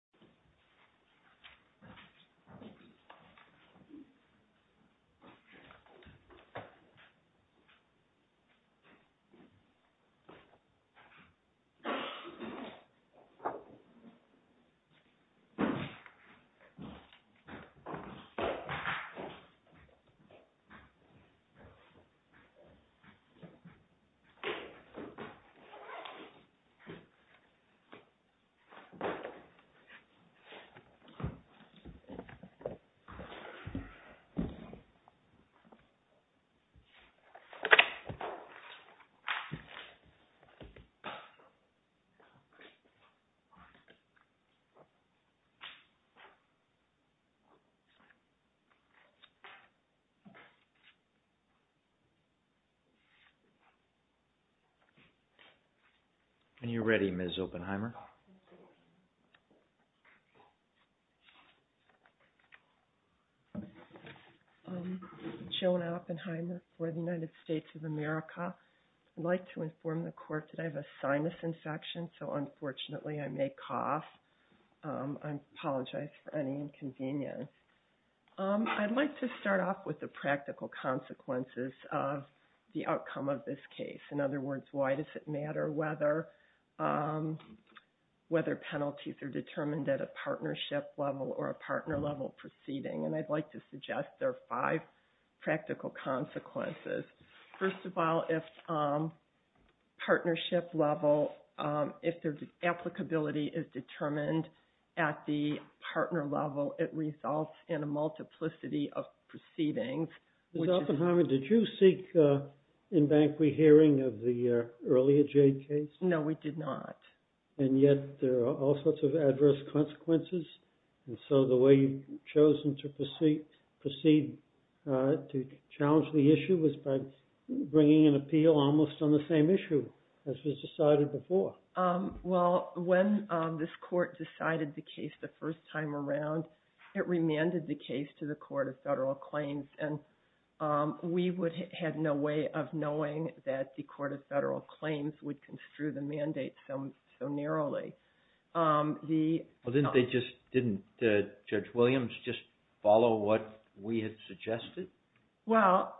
JADE TRADING v. United States JADE TRADING v. United States JADE TRADING v. United States JADE TRADING v. United States Joan Oppenheimer for the United States of America. I'd like to inform the court that I have a sinus infection, so unfortunately I may cough. I apologize for any inconvenience. I'd like to start off with the practical consequences of the outcome of this case. In other words, why does it matter whether penalties are determined at a partnership level or a partner level proceeding? And I'd like to suggest there are five practical consequences. First of all, if partnership level, if the applicability is determined at the partner level, it results in a multiplicity of proceedings. Mr. Oppenheimer, did you seek in-bank rehearing of the earlier Jade case? No, we did not. And yet there are all sorts of adverse consequences, and so the way you've chosen to proceed to challenge the issue was by bringing an appeal almost on the same issue as was decided before. Well, when this court decided the case the first time around, it remanded the case to the Court of Federal Claims, and we had no way of knowing that the Court of Federal Claims would construe the mandate so narrowly. Well, didn't Judge Williams just follow what we had suggested? Well,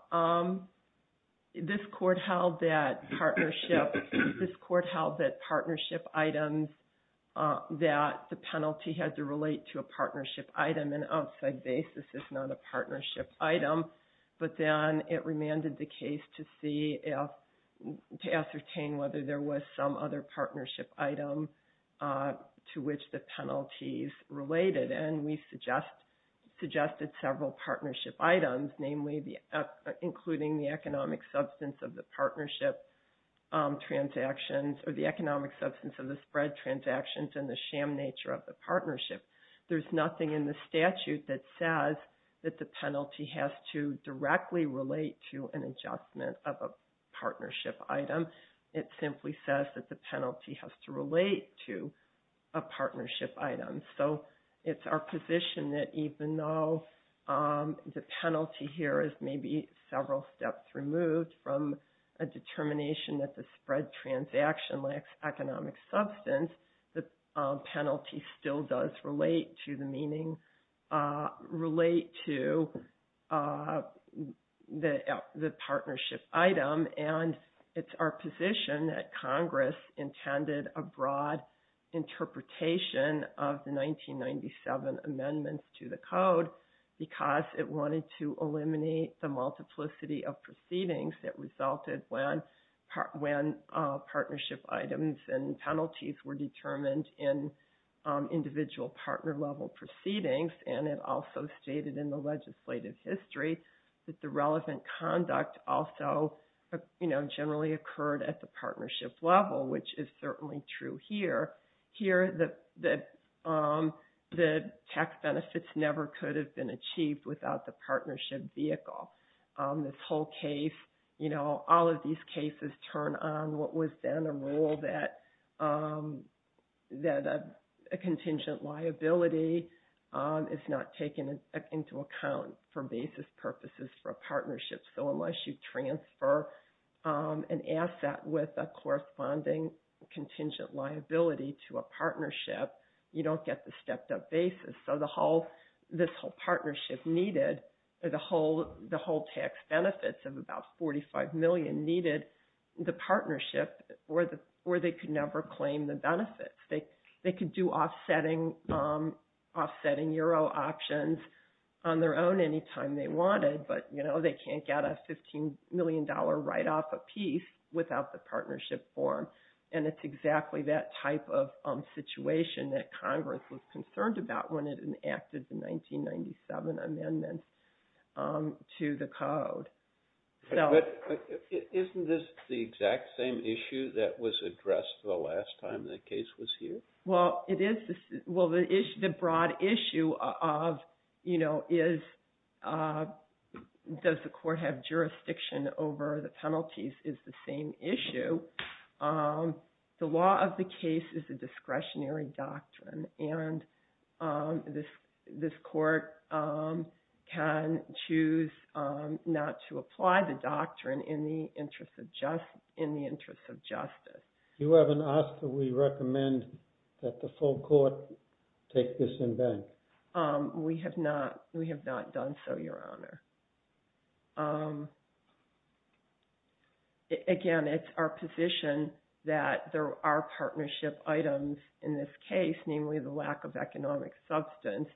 this court held that partnership items, that the penalty had to relate to a partnership item. An outside basis is not a partnership item. But then it remanded the case to ascertain whether there was some other partnership item to which the penalties related, and we suggested several partnership items, namely including the economic substance of the partnership transactions or the economic substance of the spread transactions and the sham nature of the partnership. There's nothing in the statute that says that the penalty has to directly relate to an adjustment of a partnership item. It simply says that the penalty has to relate to a partnership item. So it's our position that even though the penalty here is maybe several steps removed from a determination that the spread transaction lacks economic substance, the penalty still does relate to the meaning, relate to the partnership item. And it's our position that Congress intended a broad interpretation of the 1997 amendments to the code because it wanted to eliminate the multiplicity of proceedings that resulted when partnership items and penalties were determined in individual partner level proceedings. And it also stated in the legislative history that the relevant conduct also generally occurred at the partnership level, which is certainly true here. Here, the tax benefits never could have been achieved without the partnership vehicle. This whole case, you know, all of these cases turn on what was then a rule that a contingent liability is not taken into account for basis purposes for a partnership. So unless you transfer an asset with a corresponding contingent liability to a partnership, you don't get the stepped up basis. So this whole partnership needed, the whole tax benefits of about 45 million needed the partnership or they could never claim the benefits. They could do offsetting euro options on their own any time they wanted, but, you know, they can't get a $15 million write off a piece without the partnership form. And it's exactly that type of situation that Congress was concerned about when it enacted the 1997 amendments to the code. Isn't this the exact same issue that was addressed the last time the case was here? Well, the broad issue of, you know, does the court have jurisdiction over the penalties is the same issue. The law of the case is a discretionary doctrine. And this court can choose not to apply the doctrine in the interest of justice. You haven't asked that we recommend that the full court take this in bank. We have not. We have not done so, Your Honor. Again, it's our position that there are partnership items in this case, namely the lack of economic substance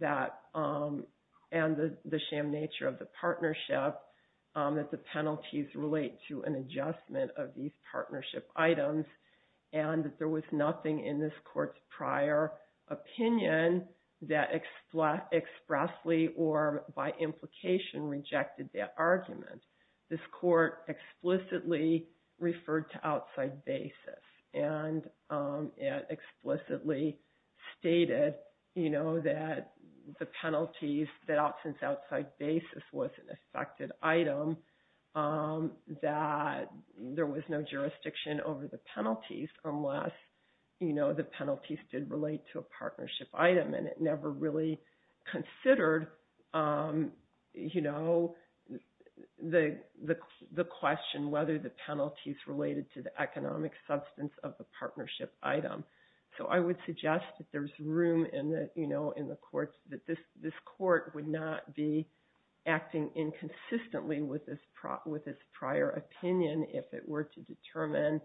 that and the sham nature of the partnership that the penalties relate to an adjustment of these partnership items. And there was nothing in this court's prior opinion that expressly or by implication rejected that argument. This court explicitly referred to outside basis, and it explicitly stated, you know, that the penalties, that since outside basis was an affected item, that there was no jurisdiction over the penalties unless, you know, the penalties did relate to a partnership item. And it never really considered, you know, the question whether the penalties related to the economic substance of the partnership item. So I would suggest that there's room in the, you know, in the courts that this court would not be acting inconsistently with this prior opinion if it were to determine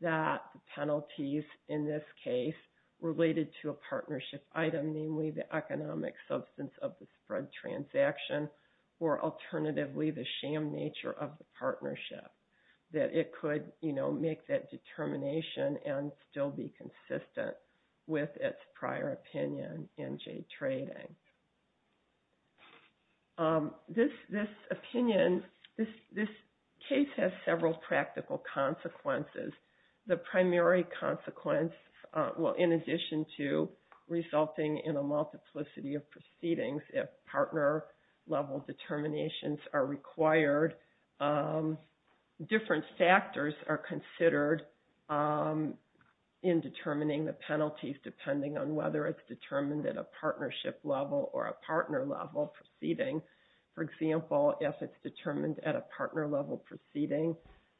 that the penalties in this case related to a partnership item, namely the economic substance of the spread transaction, or alternatively the sham nature of the partnership. That it could, you know, make that determination and still be consistent with its prior opinion in jade trading. This opinion, this case has several practical consequences. The primary consequence, well, in addition to resulting in a multiplicity of proceedings if partner level determinations are required, different factors are considered in determining the penalties depending on whether it's determined at a partnership level or a partner level proceeding. For example, if it's determined at a partner level proceeding,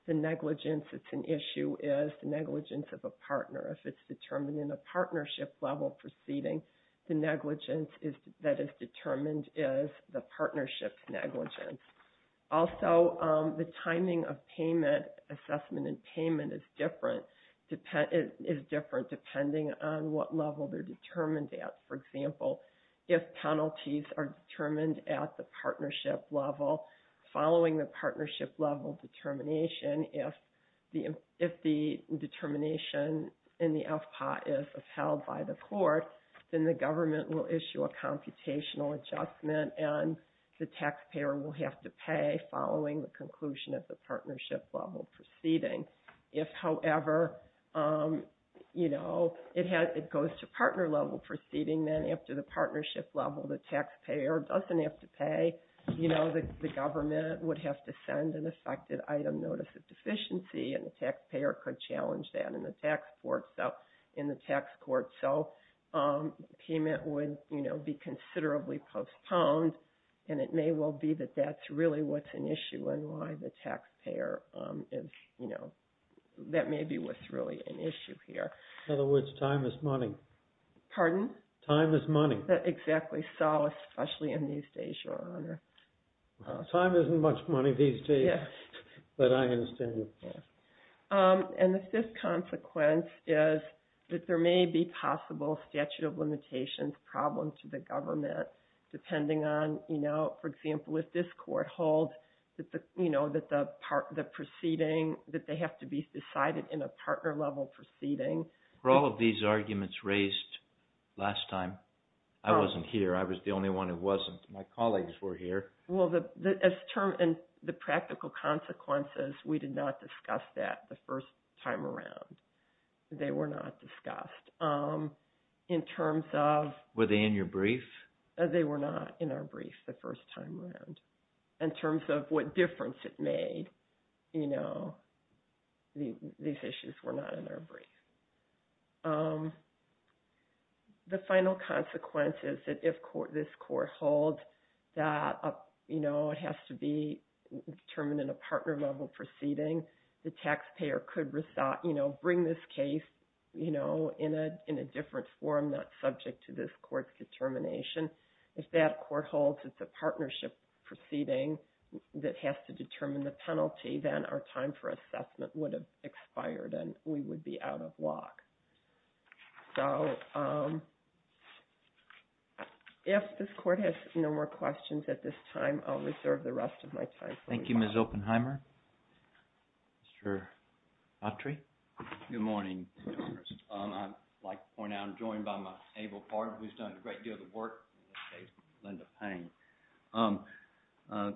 the negligence that's an issue is the negligence of a partner. If it's determined in a partnership level proceeding, the negligence that is determined is the partnership's negligence. Also, the timing of payment, assessment and payment is different depending on what level they're determined at. For example, if penalties are determined at the partnership level, following the partnership level determination, if the determination in the FPA is upheld by the court, then the government will issue a computational adjustment and the taxpayer will have to pay following the conclusion of the partnership level proceeding. If, however, you know, it goes to partner level proceeding, then after the partnership level, the taxpayer doesn't have to pay. You know, the government would have to send an effective item notice of deficiency and the taxpayer could challenge that in the tax court. So, payment would, you know, be considerably postponed and it may well be that that's really what's an issue and why the taxpayer is, you know, that may be what's really an issue here. In other words, time is money. Pardon? Time is money. Exactly so, especially in these days, Your Honor. Time isn't much money these days. Yes. But I understand. And the fifth consequence is that there may be possible statute of limitations problem to the government depending on, you know, for example, if this court holds that the, you know, that the proceeding, that they have to be decided in a partner level proceeding. Were all of these arguments raised last time? I wasn't here. I was the only one who wasn't. My colleagues were here. Well, the practical consequences, we did not discuss that the first time around. They were not discussed. In terms of… Were they in your brief? They were not in our brief the first time around. In terms of what difference it made, you know, these issues were not in our brief. The final consequence is that if this court holds that, you know, it has to be determined in a partner level proceeding, the taxpayer could, you know, bring this case, you know, in a different form that's subject to this court's determination. If that court holds it's a partnership proceeding that has to determine the penalty, then our time for assessment would have expired and we would be out of luck. So, if this court has no more questions at this time, I'll reserve the rest of my time. Thank you, Ms. Oppenheimer. Mr. Autry. Good morning, Congress. I'd like to point out I'm joined by my able partner who's done a great deal of the work in this case, Linda Payne.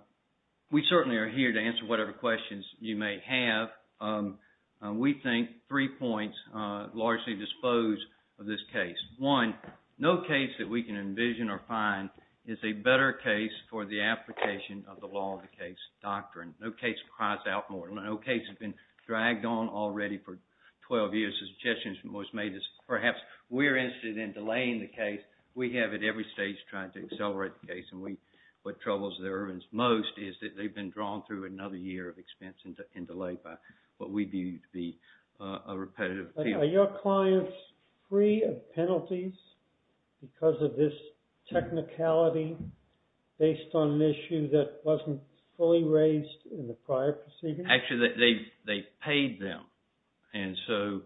We certainly are here to answer whatever questions you may have. We think three points largely dispose of this case. One, no case that we can envision or find is a better case for the application of the law of the case doctrine. No case cries out more. No case has been dragged on already for 12 years. The suggestion that was made is perhaps we're interested in delaying the case. We have at every stage tried to accelerate the case, and what troubles the Irvins most is that they've been drawn through another year of expense and delay by what we view to be a repetitive period. Are your clients free of penalties because of this technicality based on an issue that wasn't fully raised in the prior proceedings? Actually, they've paid them, and so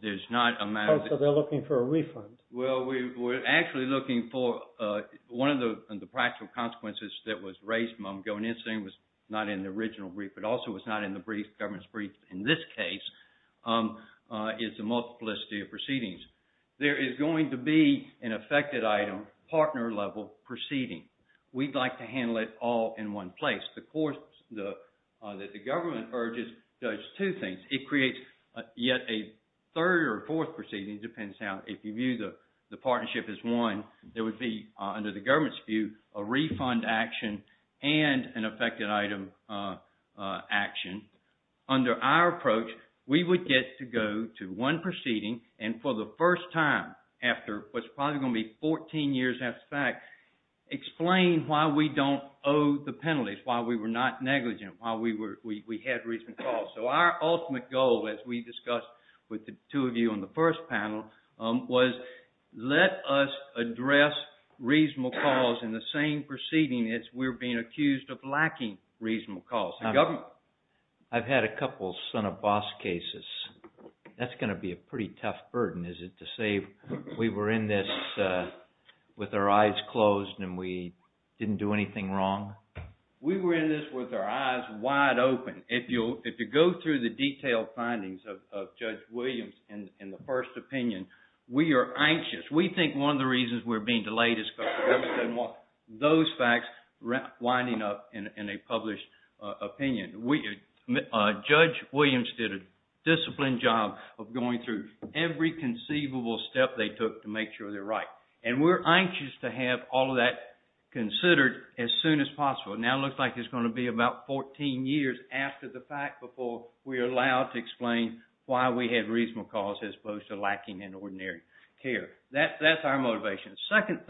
there's not a matter of... Oh, so they're looking for a refund. Well, we're actually looking for one of the practical consequences that was raised. I'm going in saying it was not in the original brief, but also it was not in the government's brief in this case. It's a multiplicity of proceedings. There is going to be an affected item, partner level proceeding. We'd like to handle it all in one place. The courts that the government urges does two things. It creates yet a third or fourth proceeding. It depends how... If you view the partnership as one, there would be, under the government's view, a refund action and an affected item action. Under our approach, we would get to go to one proceeding, and for the first time after what's probably going to be 14 years after the fact, explain why we don't owe the penalties, why we were not negligent, why we had reason to call. So our ultimate goal, as we discussed with the two of you on the first panel, was let us address reasonable cause in the same proceeding as we're being accused of lacking reasonable cause in government. I've had a couple son-of-boss cases. That's going to be a pretty tough burden, is it, to say we were in this with our eyes closed and we didn't do anything wrong? We were in this with our eyes wide open. If you go through the detailed findings of Judge Williams in the first opinion, we are anxious. We think one of the reasons we're being delayed is because the government doesn't want those facts winding up in a published opinion. Judge Williams did a disciplined job of going through every conceivable step they took to make sure they're right. And we're anxious to have all of that considered as soon as possible. Now it looks like it's going to be about 14 years after the fact before we're allowed to explain why we had reasonable cause as opposed to lacking in ordinary care. That's our motivation. The second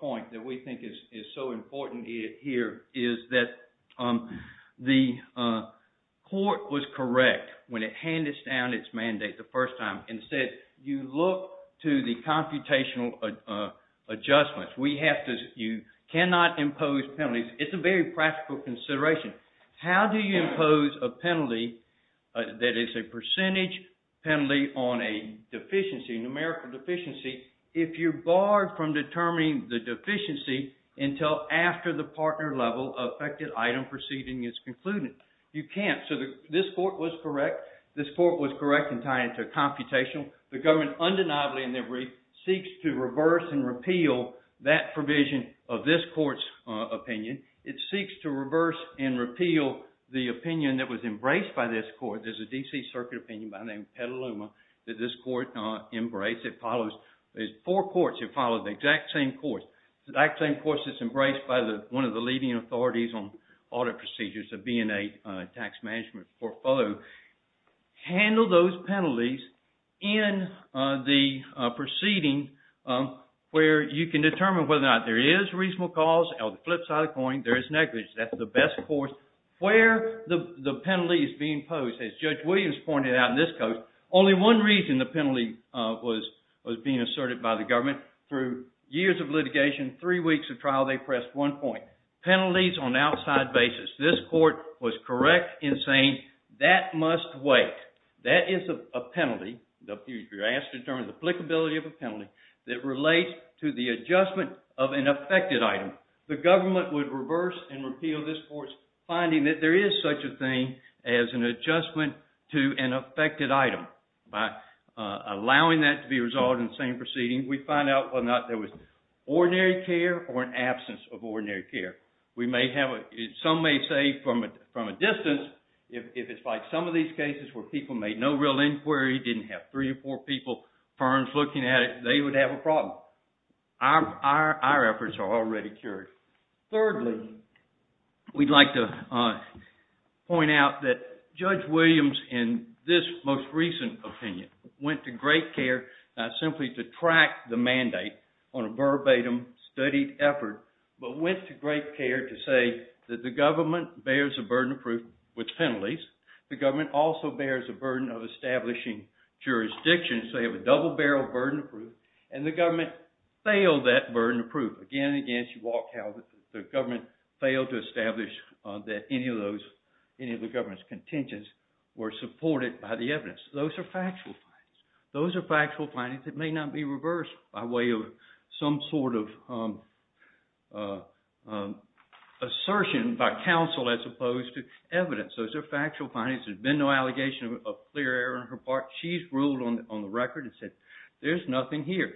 point that we think is so important here is that the court was correct when it handed down its mandate the first time. Instead, you look to the computational adjustments. You cannot impose penalties. It's a very practical consideration. How do you impose a penalty that is a percentage penalty on a deficiency, a numerical deficiency, if you're barred from determining the deficiency until after the partner-level affected item proceeding is concluded? You can't. So this court was correct. This court was correct in tying it to computational. The government undeniably in their brief seeks to reverse and repeal that provision of this court's opinion. It seeks to reverse and repeal the opinion that was embraced by this court. There's a D.C. Circuit opinion by the name Petaluma that this court embraced. It follows four courts. It follows the exact same course. The exact same course that's embraced by one of the leading authorities on audit procedures, the B&A Tax Management Portfolio. Handle those penalties in the proceeding where you can determine whether or not there is reasonable cause. On the flip side of the coin, there is negligence. That's the best course where the penalty is being posed. As Judge Williams pointed out in this case, only one reason the penalty was being asserted by the government through years of litigation, three weeks of trial, they pressed one point. Penalties on outside basis. This court was correct in saying that must wait. That is a penalty. You're asked to determine the applicability of a penalty that relates to the adjustment of an affected item. The government would reverse and repeal this court's finding that there is such a thing as an adjustment to an affected item. By allowing that to be resolved in the same proceeding, we find out whether or not there was ordinary care or an absence of ordinary care. We may have, some may say from a distance, if it's like some of these cases where people made no real inquiry, didn't have three or four people, firms looking at it, they would have a problem. Our efforts are already cured. Thirdly, we'd like to point out that Judge Williams in this most recent opinion went to great care not simply to track the mandate on a verbatim studied effort, but went to great care to say that the government bears a burden of proof with penalties. The government also bears a burden of establishing jurisdictions. They have a double barrel of burden of proof, and the government failed that burden of proof. Again and again, she walked out of it. The government failed to establish that any of the government's contentions were supported by the evidence. Those are factual facts. It may not be reversed by way of some sort of assertion by counsel as opposed to evidence. Those are factual findings. There's been no allegation of clear error on her part. She's ruled on the record and said there's nothing here.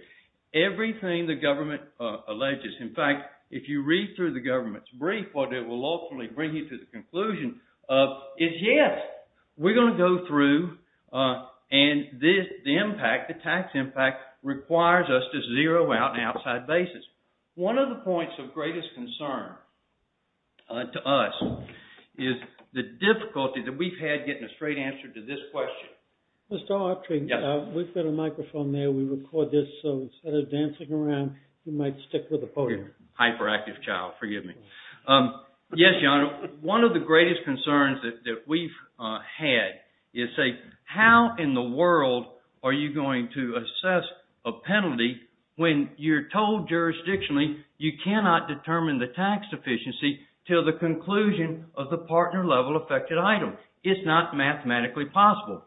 Everything the government alleges, in fact, if you read through the government's brief, what it will ultimately bring you to the conclusion is, yes, we're going to go through, and the impact, the tax impact, requires us to zero out on an outside basis. One of the points of greatest concern to us is the difficulty that we've had getting a straight answer to this question. Mr. Autry, we've got a microphone there. We record this, so instead of dancing around, you might stick with the podium. Hyperactive child, forgive me. Yes, John, one of the greatest concerns that we've had is, say, how in the world are you going to assess a penalty when you're told jurisdictionally you cannot determine the tax sufficiency until the conclusion of the partner-level affected item? It's not mathematically possible.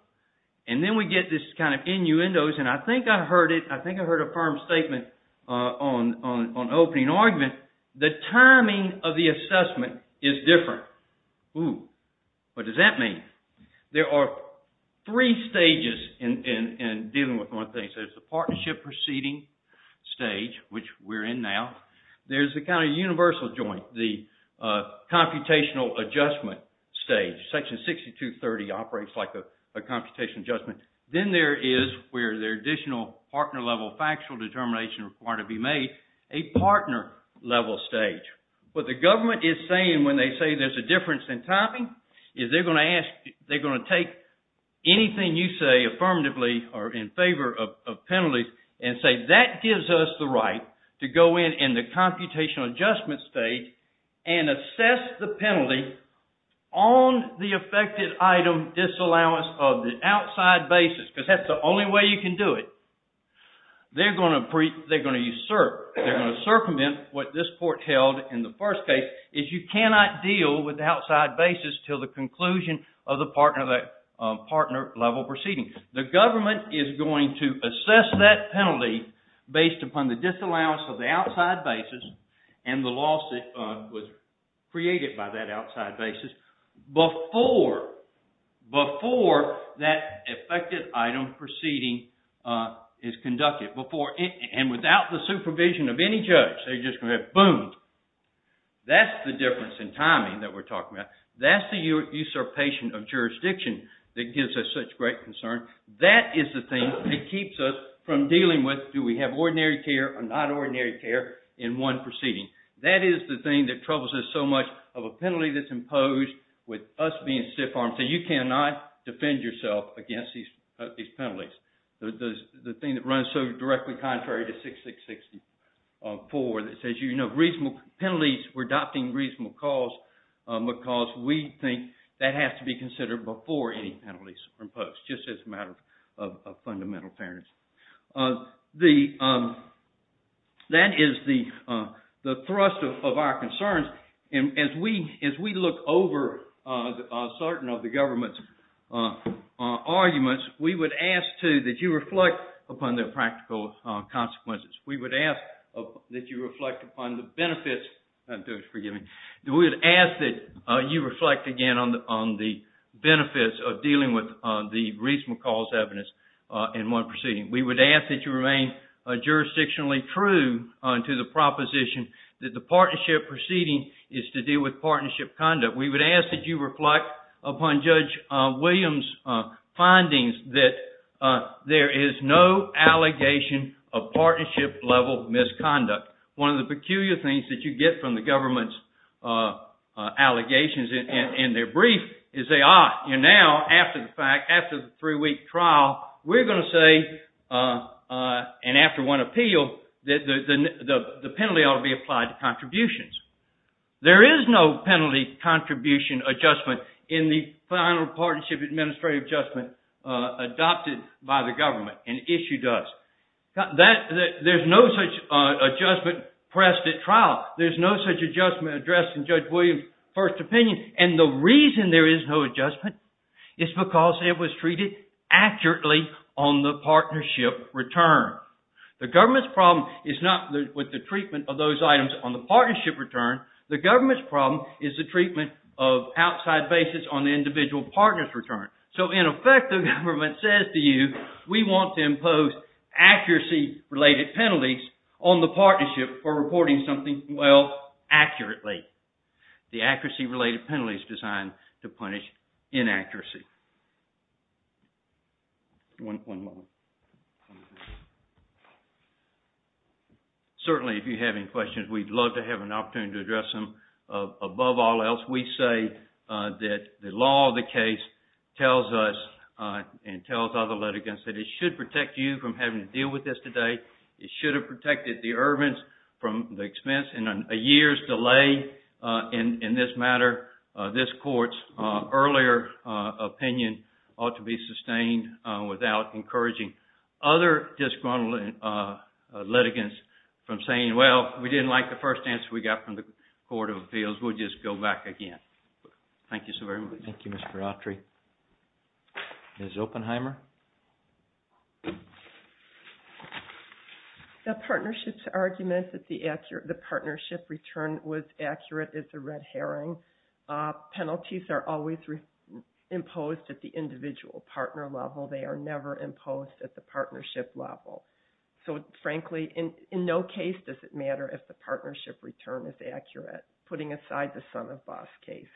And then we get this kind of innuendos, and I think I heard it. I think I heard a firm statement on opening argument. The timing of the assessment is different. Ooh, what does that mean? There are three stages in dealing with one thing. There's the partnership proceeding stage, which we're in now. There's the kind of universal joint, the computational adjustment stage. Section 6230 operates like a computation adjustment. Then there is where the additional partner-level factual determination is required to be made. A partner-level stage. What the government is saying when they say there's a difference in timing is they're going to take anything you say affirmatively or in favor of penalties and say that gives us the right to go in in the computational adjustment stage and assess the penalty on the affected item disallowance of the outside basis, because that's the only way you can do it. They're going to usurp, they're going to circumvent what this court held in the first case, is you cannot deal with the outside basis until the conclusion of the partner-level proceeding. The government is going to assess that penalty based upon the disallowance of the outside basis and the lawsuit was created by that outside basis before that affected item proceeding is conducted. Without the supervision of any judge, they're just going to go boom. That's the difference in timing that we're talking about. That's the usurpation of jurisdiction that gives us such great concern. That is the thing that keeps us from dealing with, do we have ordinary care or not ordinary care in one proceeding. That is the thing that troubles us so much of a penalty that's imposed with us being stiff-armed. You cannot defend yourself against these penalties. The thing that runs so directly contrary to 6664 that says you have reasonable penalties, we're adopting reasonable cause because we think that has to be considered before any penalties are imposed, just as a matter of fundamental fairness. That is the thrust of our concerns. As we look over certain of the government's arguments, we would ask, too, that you reflect upon their practical consequences. We would ask that you reflect upon the benefits. I'm doing it, forgive me. We would ask that you reflect, again, on the benefits of dealing with the reasonable cause evidence in one proceeding. We would ask that you remain jurisdictionally true to the proposition that the partnership proceeding is to deal with partnership conduct. We would ask that you reflect upon Judge Williams' findings that there is no allegation of partnership-level misconduct. One of the peculiar things that you get from the government's allegations and their brief is they are. Now, after the fact, after the three-week trial, we're going to say, and after one appeal, that the penalty ought to be applied to contributions. There is no penalty contribution adjustment in the final partnership administrative adjustment adopted by the government and issued us. There's no such adjustment pressed at trial. There's no such adjustment addressed in Judge Williams' first opinion. And the reason there is no adjustment is because it was treated accurately on the partnership return. The government's problem is not with the treatment of those items on the partnership return. The government's problem is the treatment of outside basis on the individual partner's return. So, in effect, the government says to you, we want to impose accuracy-related penalties on the partnership for reporting something well, accurately. The accuracy-related penalty is designed to punish inaccuracy. Certainly, if you have any questions, we'd love to have an opportunity to address them. Above all else, we say that the law of the case tells us and tells other litigants that it should protect you from having to deal with this today. It should have protected the errants from the expense and a year's delay in this matter. This court's earlier opinion ought to be sustained without encouraging other disgruntled litigants from saying, well, we didn't like the first answer we got from the Court of Appeals. We'll just go back again. Thank you so very much. Thank you, Mr. Autry. Ms. Oppenheimer? The partnership's argument that the partnership return was accurate is a red herring. Penalties are always imposed at the individual partner level. They are never imposed at the partnership level. So, frankly, in no case does it matter if the partnership return is accurate, putting aside the son-of-boss cases,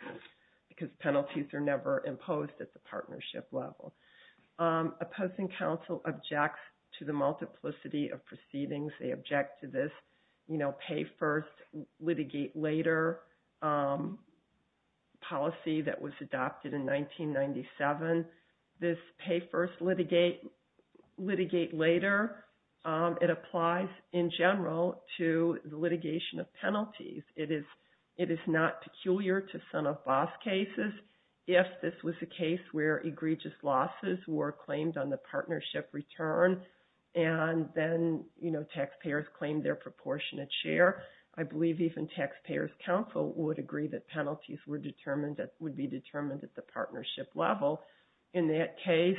because penalties are never imposed at the partnership level. Opposing counsel objects to the multiplicity of proceedings. They object to this pay-first-litigate-later policy that was adopted in 1997. This pay-first-litigate-later, it applies in general to the litigation of penalties. It is not peculiar to son-of-boss cases. If this was a case where egregious losses were claimed on the partnership return, and then taxpayers claimed their proportionate share, I believe even taxpayers' counsel would agree that penalties would be determined at the partnership level. In that case,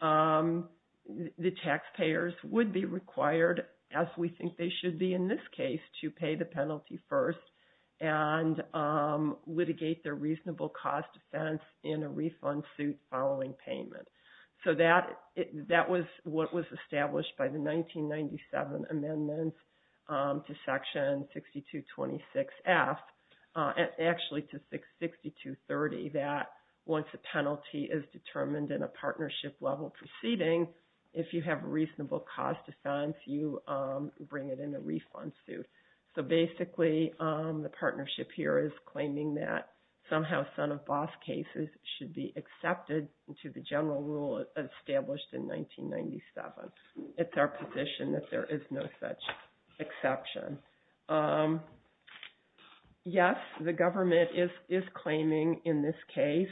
the taxpayers would be required, as we think they should be in this case, to pay the penalty first and litigate their reasonable cause defense in a refund suit following payment. So that was what was established by the 1997 amendments to Section 6226F, actually to 6230, that once a penalty is determined in a partnership-level proceeding, if you have a reasonable cause defense, you bring it in a refund suit. So basically, the partnership here is claiming that somehow son-of-boss cases should be accepted into the general rule established in 1997. It's our position that there is no such exception. Yes, the government is claiming in this case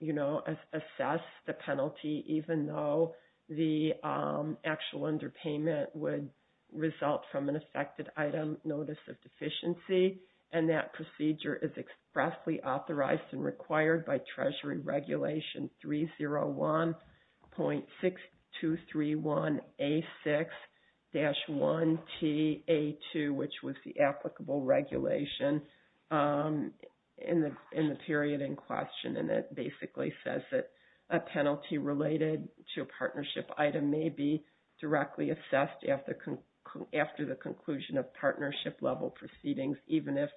we would assess the penalty even though the actual underpayment would result from an affected item notice of deficiency, and that procedure is expressly authorized and required by Treasury Regulation 301.6231A6-1TA2, which was the applicable regulation in the period in question, and that basically says that a penalty related to a partnership item may be directly assessed after the conclusion of partnership-level proceedings, even if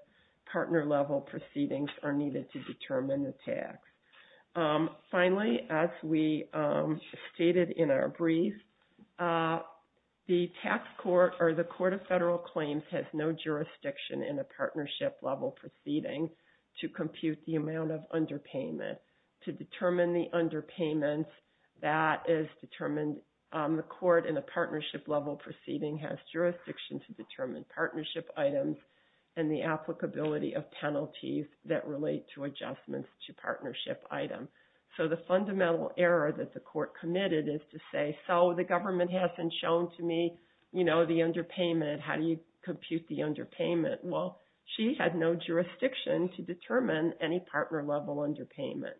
partner-level proceedings are needed to determine the tax. Finally, as we stated in our brief, the tax court or the Court of Federal Claims has no jurisdiction in a partnership-level proceeding to compute the amount of underpayment. To determine the underpayment, that is determined on the court in a partnership-level proceeding has jurisdiction to determine partnership items and the applicability of penalties that relate to adjustments to partnership items. So the fundamental error that the court committed is to say, so the government hasn't shown to me the underpayment. How do you compute the underpayment? Well, she had no jurisdiction to determine any partner-level underpayment.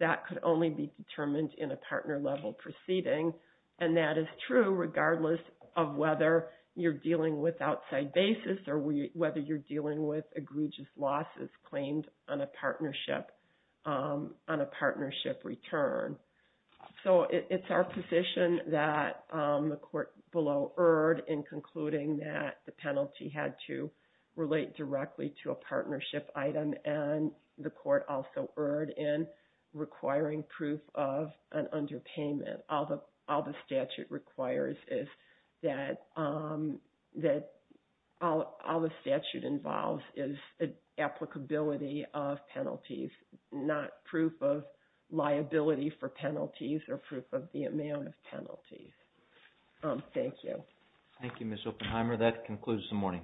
That could only be determined in a partner-level proceeding, and that is true regardless of whether you're dealing with outside basis or whether you're dealing with egregious losses claimed on a partnership return. that the court below erred in concluding that the penalty had to relate directly to a partnership item, and the court also erred in requiring proof of an underpayment. All the statute requires is that all the statute involves is applicability of penalties, not proof of liability for penalties or proof of the amount of penalties. Thank you. Thank you, Ms. Oppenheimer. That concludes the morning.